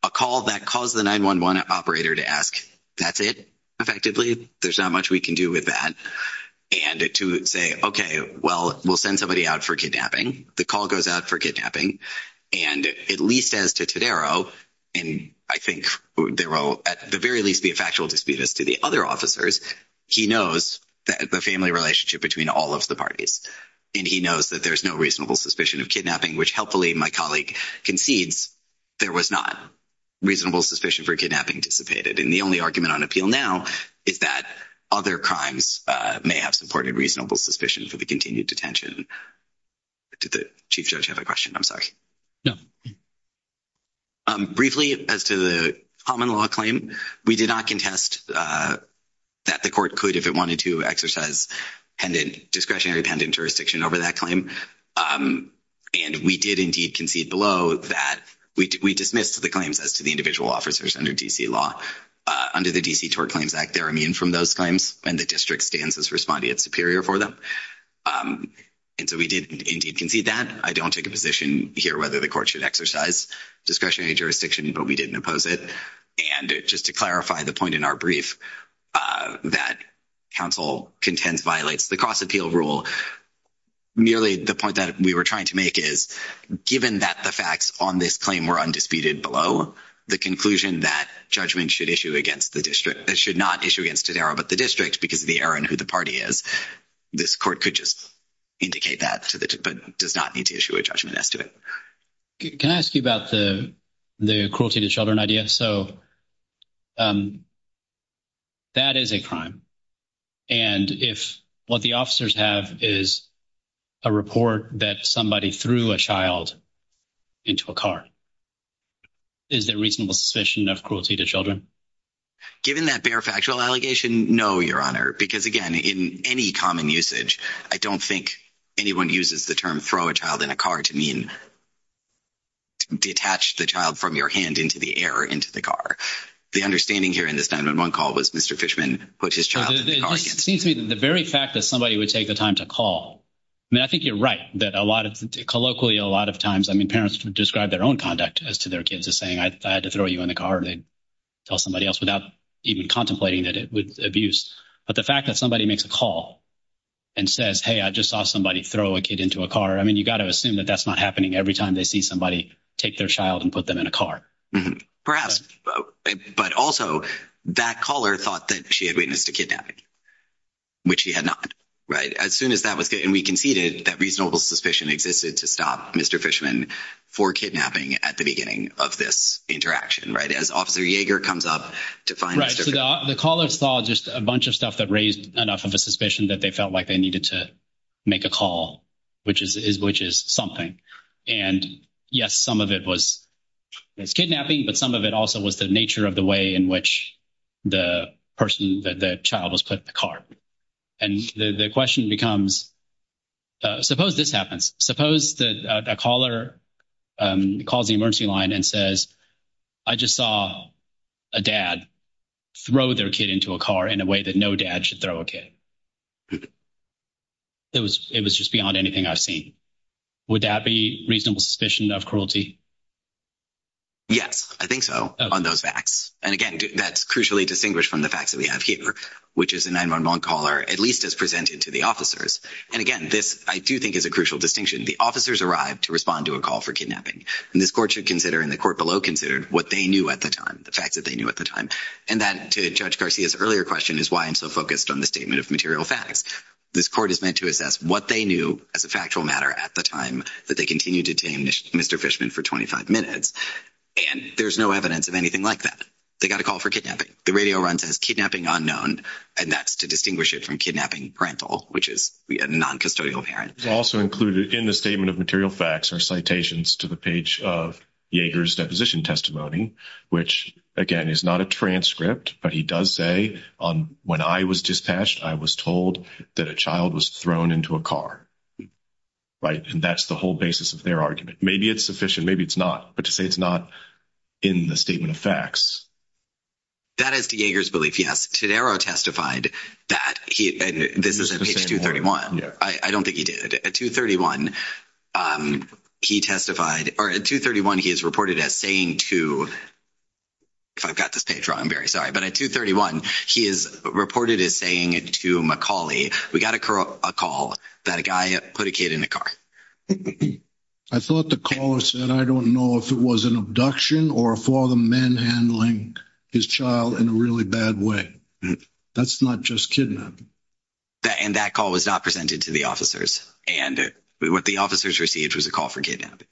a call that calls the 911 operator to ask, that's it, effectively? There's not much we can do with that. And to say, okay, well, we'll send somebody out for kidnapping. The call goes out for kidnapping. And at least as to Darrow, and I think Darrow, at the very least, be a factual dispute as to the other officers, he knows the family relationship between all of the parties, and he knows that there's no reasonable suspicion of kidnapping, which, helpfully, my colleague concedes, there was not reasonable suspicion for kidnapping dissipated. And the only argument on appeal now is that other crimes may have supported reasonable suspicion for the continued detention. Did the Chief Judge have a question? I'm sorry. No. Briefly, as to the common law claim, we did not contest that the Court could, if it wanted to, exercise discretionary jurisdiction over that claim. And we did indeed concede below that we dismissed the claims as to the individual officers under D.C. law. Under the D.C. Tort Claims Act, they're immune from those claims, and the District stands as respondeat superior for them. And so we did indeed concede that. I don't take a position here whether the Court should exercise discretionary jurisdiction, but we didn't oppose it. And just to clarify the point in our brief, that counsel contends violates the cross-appeal rule. Nearly the point that we were trying to make is, given that the facts on this claim were undisputed below, the conclusion that judgment should issue against the District, it should not issue against Todaro, but the District, because of the error in who the party is, this Court could just indicate that, but does not need to issue a judgment as to it. Can I ask you about the cruelty to children idea? So, that is a crime. And if what the officers have is a report that somebody threw a child into a car, is there reasonable suspicion of cruelty to children? Given that bare factual allegation, no, Your Honor, because, again, in any common usage, I don't think anyone uses the term throw a child in a car to mean detach the child from your hand into the air or into the car. The understanding here in this 9-1-1 call was Mr. Fishman put his child in the car. It seems to me that the very fact that somebody would take the time to call, I mean, I think you're right that a lot of, colloquially, a lot of times, I mean, parents would describe their own conduct as to their kids as saying, I had to throw you in the car, or they'd tell somebody else without even contemplating that with abuse. But the fact that somebody makes a call and says, hey, I just saw somebody throw a kid into a car, I mean, you've got to assume that that's not happening every time they see somebody take their child and put them in a car. Perhaps. But also, that caller thought that she had witnessed a kidnapping, which she had not, right? As soon as that was, and we conceded that reasonable suspicion existed to stop Mr. Fishman for kidnapping at the beginning of this interaction, right? As Officer Yeager comes up to find out. Right. So the caller saw just a bunch of stuff that raised enough of a suspicion that they felt like they needed to make a call, which is something. And yes, some of it was kidnapping, but some of it also was the nature of the way in which the person, the child was put in the car. And the question becomes, suppose this happens. Suppose that a caller calls the emergency line and says, I just saw a dad throw their kid into a car in a way that no dad should throw a kid. It was just beyond anything I've seen. Would that be reasonable suspicion of cruelty? Yes, I think so, on those facts. And again, that's crucially distinguished from the facts that we have here, which is a 911 caller, at least as presented to the officers. And again, this I do think is a crucial distinction. The officers arrived to respond to a call for kidnapping. And this court should consider, and the court below considered, what they knew at the time, the facts that they knew at the time. And that, to Judge Garcia's earlier question, is why I'm so focused on the statement of material facts. This court is meant to assess what they knew as a factual matter at the time that they continued to tame Mr. Fishman for 25 minutes. And there's no evidence of anything like that. They got a call for kidnapping. The radio runs as kidnapping unknown, and that's to distinguish it from kidnapping parental, which is a noncustodial parent. It's also included in the statement of material facts are citations to the page of Yeager's deposition testimony, which, again, is not a transcript. But he does say, when I was dispatched, I was told that a child was thrown into a car. Right? And that's the whole basis of their argument. Maybe it's sufficient. Maybe it's not. But to say it's not in the statement of facts. That is to Yeager's belief, yes. Tadaro testified that he, this is at page 231. I don't think he did. At 231, he testified, or at 231, he is reported as saying to, if I've got this page wrong, I'm very sorry. But at 231, he is reported as saying to McCauley, we got a call that a guy put a kid in a car. I thought the caller said, I don't know if it was an abduction or a father manhandling his child in a really bad way. That's not just kidnapping. And that call was not presented to the officers. And what the officers received was a call for kidnapping.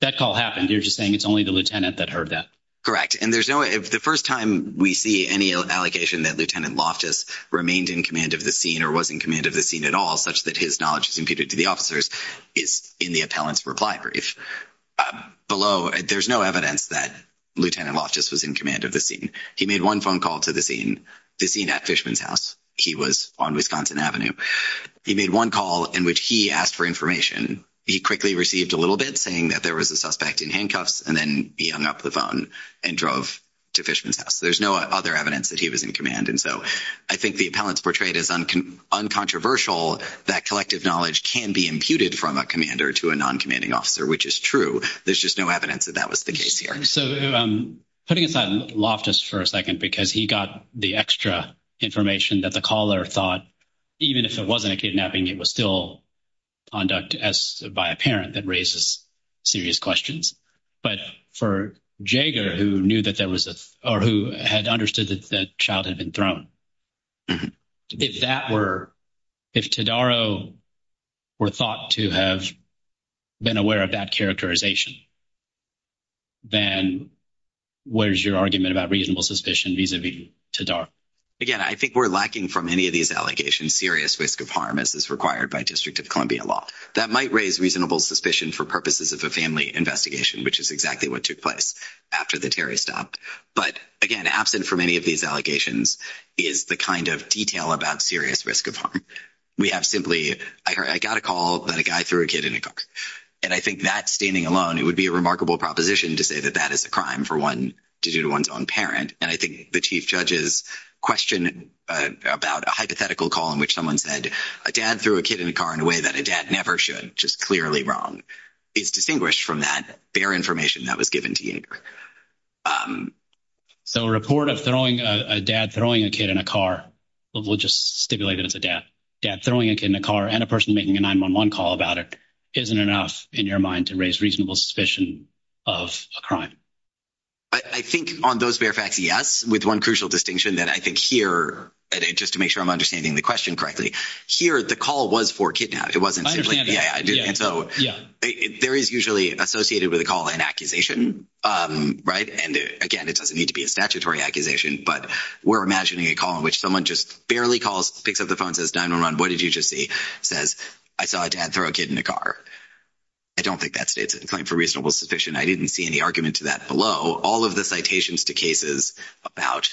That call happened. You're just saying it's only the lieutenant that heard that. Correct. And there's no, if the first time we see any allocation that Lieutenant Loftus remained in command of the scene or was in command of the scene at all, such that his is imputed to the officers, is in the appellant's reply brief. Below, there's no evidence that Lieutenant Loftus was in command of the scene. He made one phone call to the scene, the scene at Fishman's House. He was on Wisconsin Avenue. He made one call in which he asked for information. He quickly received a little bit saying that there was a suspect in handcuffs. And then he hung up the phone and drove to Fishman's House. There's no other evidence that he was in command. And so I think the appellant's portrayed as uncontroversial that collective knowledge can be imputed from a commander to a non-commanding officer, which is true. There's just no evidence that that was the case here. So putting aside Loftus for a second, because he got the extra information that the caller thought, even if it wasn't a kidnapping, it was still conduct as by a parent that raises serious questions. But for Jager, who knew that there was a suspect, if Tadaro were thought to have been aware of that characterization, then what is your argument about reasonable suspicion vis-a-vis Tadaro? Again, I think we're lacking from any of these allegations serious risk of harm as is required by District of Columbia law. That might raise reasonable suspicion for purposes of a family investigation, which is exactly what took place after the Terry stopped. But again, absent from any of these allegations is the kind of detail about serious risk of harm. We have simply, I got a call that a guy threw a kid in a car. And I think that standing alone, it would be a remarkable proposition to say that that is a crime for one to do to one's own parent. And I think the chief judge's question about a hypothetical call in which someone said, a dad threw a kid in a car in a way that a dad never should, which is clearly wrong, is distinguished from that bare information that was given to Jager. So a report of a dad throwing a kid in a car, we'll just stipulate it as a dad, dad throwing a kid in a car and a person making a 911 call about it isn't enough in your mind to raise reasonable suspicion of a crime? I think on those bare facts, yes, with one crucial distinction that I think here, just to make sure I'm understanding the question correctly, here, the call was for kidnap. I understand that. Yeah, I do. And so there is usually associated with a call and accusation. Right. And again, it doesn't need to be a statutory accusation. But we're imagining a call in which someone just barely calls, picks up the phone, says 911, what did you just see? Says, I saw a dad throw a kid in a car. I don't think that states a claim for reasonable suspicion. I didn't see any argument to that below. All of the citations to cases about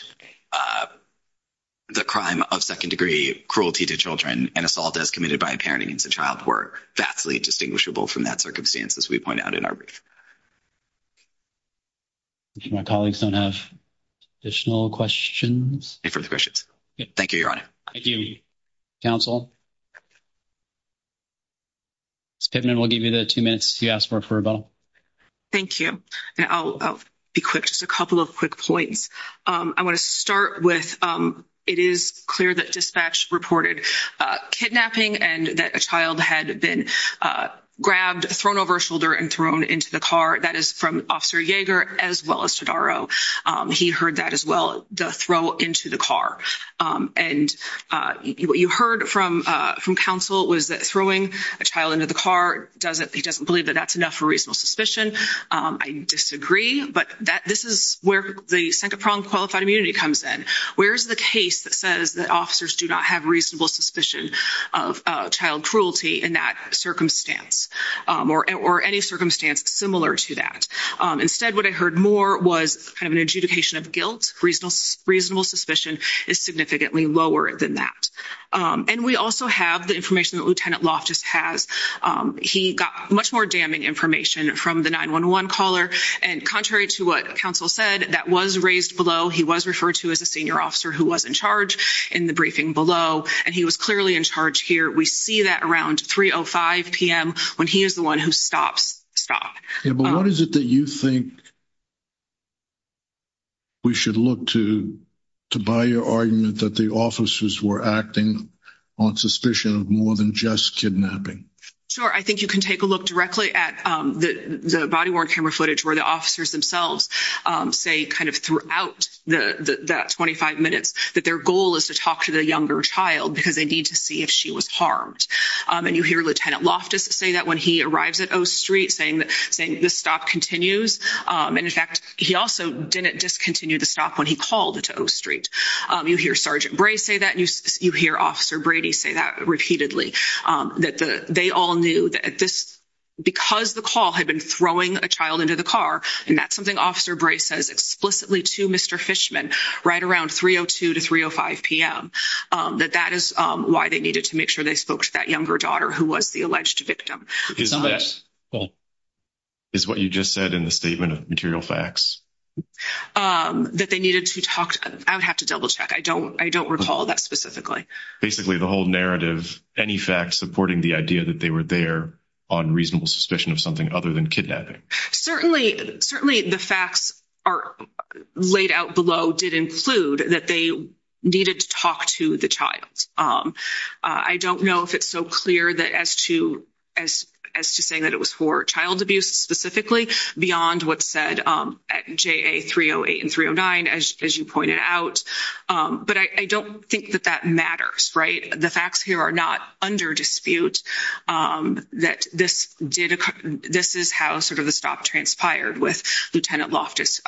the crime of second degree cruelty to children and assault as committed by a parent against a child were vastly distinguishable from that circumstance, as we point out in our brief. My colleagues don't have additional questions. No further questions. Thank you, Your Honor. Thank you, counsel. Ms. Piven, we'll give you the two minutes you asked for for rebuttal. Thank you. And I'll be quick, just a couple of quick points. I want to start with, it is clear that dispatch reported kidnapping and that a child had been grabbed, thrown over a shoulder, and thrown into the car. That is from Officer Yeager, as well as Todaro. He heard that as well, the throw into the car. And what you heard from counsel was that throwing a child into the car, he doesn't believe that that's enough for reasonable suspicion. I disagree. But this is where the second-pronged qualified immunity comes in. Where is the case that says that officers do not have reasonable suspicion of child cruelty in that circumstance, or any circumstance similar to that? Instead, what I heard more was kind of an adjudication of guilt. Reasonable suspicion is significantly lower than that. And we also have the information that Lieutenant Loftus has. He got much more damning information from the 911 caller. And contrary to what counsel said, that was raised below. He was referred to as a senior officer who was in charge in the briefing below. And he was clearly in charge here. We see that around 3.05 p.m., when he is the one who stops, stop. Yeah, but what is it that you think we should look to, to buy your argument that the officers were acting on suspicion of more than just kidnapping? Sure. I think you can take a look directly at the body-worn camera footage, where the officers themselves say kind of throughout the 25 minutes that their goal is to talk to the younger child, because they need to see if she was harmed. And you hear Lieutenant Loftus say that when he arrives at O Street, saying the stop continues. And in fact, he also didn't discontinue the stop when he called to O Street. You hear Sergeant Bray say that. And you hear Officer Brady say that repeatedly, that they all knew that this, because the call had been throwing a child into the car, and that's something Officer Bray says explicitly to Mr. Fishman right around 3.02 to 3.05 p.m., that that is why they needed to make sure they spoke to that younger daughter, who was the alleged victim. Is what you just said in the statement of material facts? That they needed to talk, I would have to double check. I don't recall that specifically. Basically, the whole narrative, any facts supporting the idea that they were there on reasonable suspicion of something other than kidnapping. Certainly, the facts laid out below did include that they needed to talk to the child. I don't know if it's so clear as to saying that it was for child abuse specifically, beyond what's said at JA 308 and 309, as you pointed out. But I don't think that that matters, right? The facts here are not under dispute that this is how the stop transpired with Lieutenant Loftus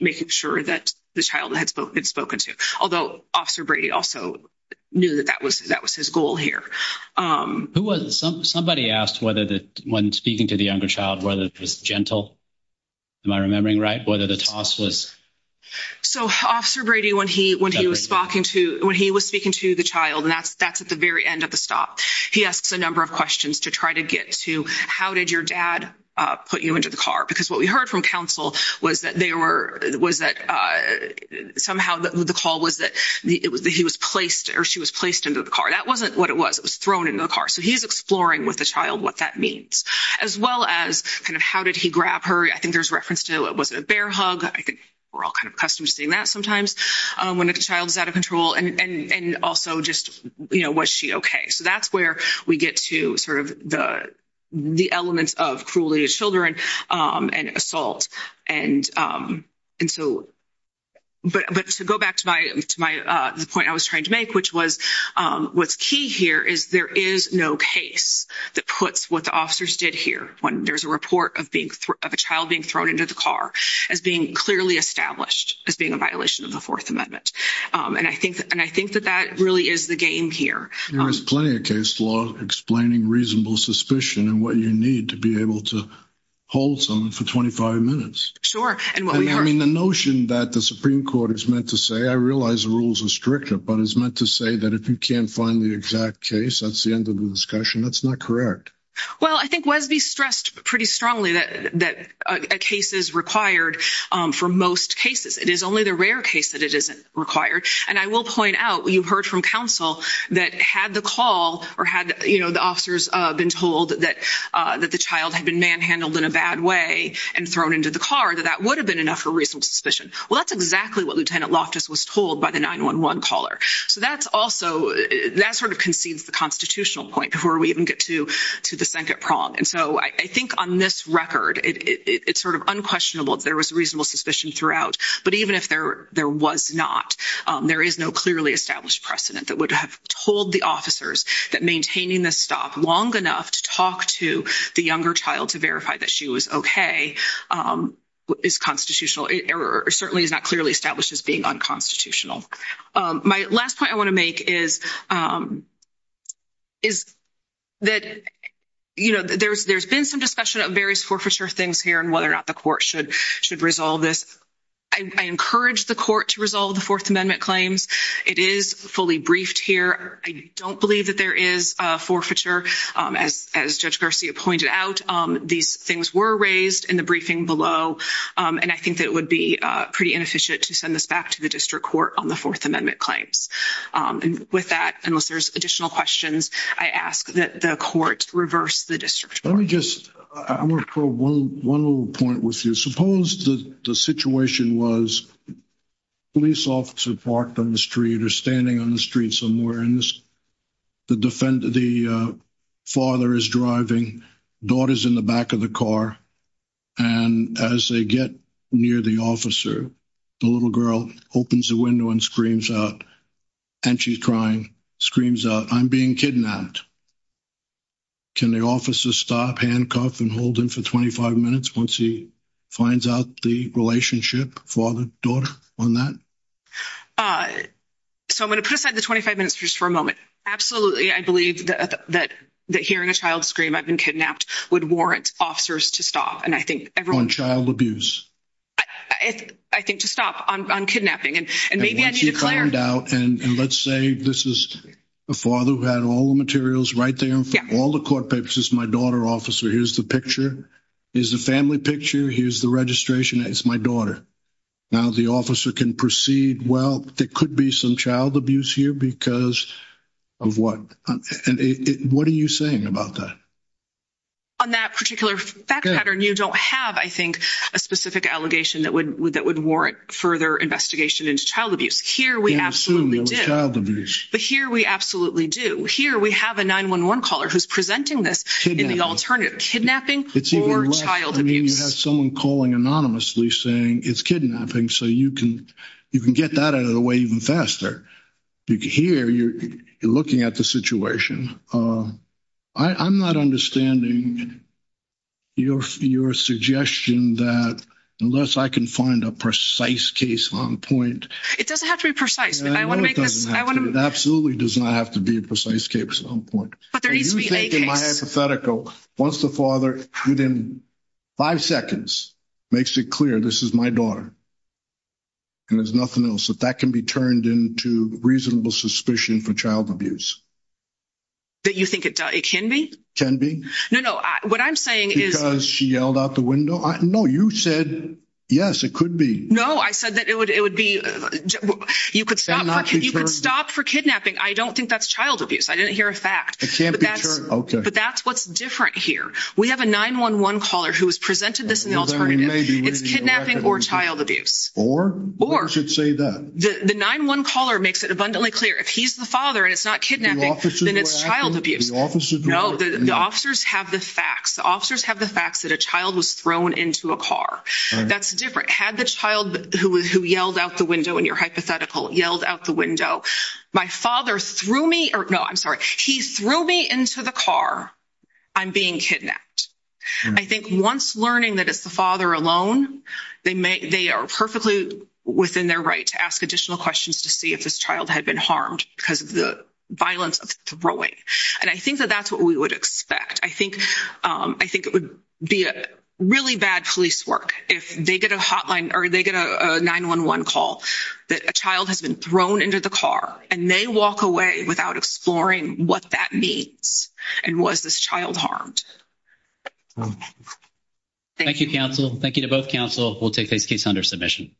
making sure that the child had spoken to, although Officer Brady also knew that that was his goal here. Who was it? Somebody asked whether when speaking to the younger child, whether it was gentle. Am I remembering right? Whether the toss was... So, Officer Brady, when he was speaking to the child, and that's at the very end of the stop, he asks a number of questions to try to get to how did your dad put you into the car? Because what we heard from counsel was that somehow the call was that he was placed or she was placed into the car. That wasn't what it was. It was thrown into the car. So, he's exploring with the child what that means, as well as kind of how did he grab her? I think there's reference to, was it a bear hug? I think we're all kind of accustomed to seeing that sometimes when a child is out of control. And also, just was she okay? So, that's where we get to sort of the elements of cruelty to children and assault. But to go back to the point I was trying to make, which was what's key here is there is no case that puts what the officers did here when there's a report of a child being thrown into the car as being clearly established as being a violation of the Fourth Amendment. And I think that that really is the game here. There is plenty of case law explaining reasonable suspicion and what you need to be able to hold someone for 25 minutes. Sure. And what we heard. I mean, the notion that the Supreme Court is meant to say, I realize the rules are stricter, but it's meant to say that if you can't find the exact case, that's the end of the discussion. That's not correct. Well, I think Wesby stressed pretty strongly that a case is required for most cases. It is only the rare case that it isn't required. And I will point out, you've heard from counsel that had the call or had, you know, the officers been told that the child had been manhandled in a bad way and thrown into the car, that that would have been enough for reasonable suspicion. Well, that's exactly what Lieutenant Loftus was told by the 911 caller. So that's also, that sort of concedes the constitutional point before we even get to the second prong. And so I think on this record, it's sort of unquestionable. There was reasonable suspicion throughout. But even if there was not, there is no clearly established precedent that would have told the officers that maintaining the stop long enough to talk to the younger child to verify that she was okay is constitutional, or certainly is not clearly established as being unconstitutional. My last point I want to make is that, you know, there's been some discussion of various forfeiture things here and whether or not the court should resolve this. I encourage the court to resolve the Fourth Amendment claims. It is fully briefed here. I don't believe that there is a forfeiture, as Judge Garcia pointed out. These things were raised in the briefing below. And I think that it would be pretty inefficient to send this back to the district court on the Fourth Amendment claims. With that, unless there's additional questions, I ask that the court reverse the district court. Let me just, I want to probe one little point with you. Suppose the situation was police officer parked on the street or standing on the street somewhere and the father is driving, daughter's in the back of the car. And as they get near the officer, the little girl opens the window and screams out, and she's crying, screams out, I'm being kidnapped. Can the officer stop, handcuff, and hold him for 25 minutes once he finds out the relationship, father, daughter, on that? So I'm going to put aside the 25 minutes just for a moment. Absolutely, I believe that hearing a child scream, I've been kidnapped, would warrant officers to stop. And I think everyone- On child abuse. I think to stop on kidnapping. And maybe I need to declare- And let's say this is a father who had all the materials right there. All the court papers, this is my daughter, officer. Here's the picture. Here's the family picture. Here's the registration. It's my daughter. Now the officer can proceed. Well, there could be some child abuse here because of what? What are you saying about that? On that particular fact pattern, you don't have, I think, a specific allegation that would warrant further investigation into child abuse. Here we absolutely do. But here we absolutely do. Here we have a 911 caller who's presenting this in the alternative, kidnapping or child abuse. I mean, you have someone calling anonymously saying it's kidnapping, so you can get that out of the way even faster. Here, you're looking at the situation. I'm not understanding your suggestion that unless I can find a precise case on point- It doesn't have to be precise. I want to make this- It absolutely does not have to be a precise case on point. But there needs to be a case. My hypothetical, once the father within five seconds makes it clear, this is my daughter and there's nothing else, that that can be turned into reasonable suspicion for child abuse. That you think it can be? No, no. What I'm saying is- Because she yelled out the window? No, you said, yes, it could be. No, I said that it would be- You could stop for kidnapping. I don't think that's child abuse. I didn't hear a fact. It can't be turned. Okay. But that's what's different here. We have a 911 caller who has presented this in the alternative. It's kidnapping or child abuse. Or? Or. You should say that. The 911 caller makes it abundantly clear. If he's the father and it's not kidnapping, then it's child abuse. No, the officers have the facts. The officers have the facts that a child was thrown into a car. That's different. Had the child who yelled out the window in your hypothetical, yelled out the window, my father threw me- Or, no, I'm sorry. He threw me into the car. I'm being kidnapped. I think once learning that it's the father alone, they are perfectly within their right to ask additional questions to see if this child had been harmed because of the violence of throwing. And I think that that's what we would expect. I think it would be really bad police work if they get a hotline or they get a 911 call that a child has been thrown into the car and they walk away without exploring what that means and was this child harmed. Thank you, counsel. Thank you to both counsel. We'll take this case under submission.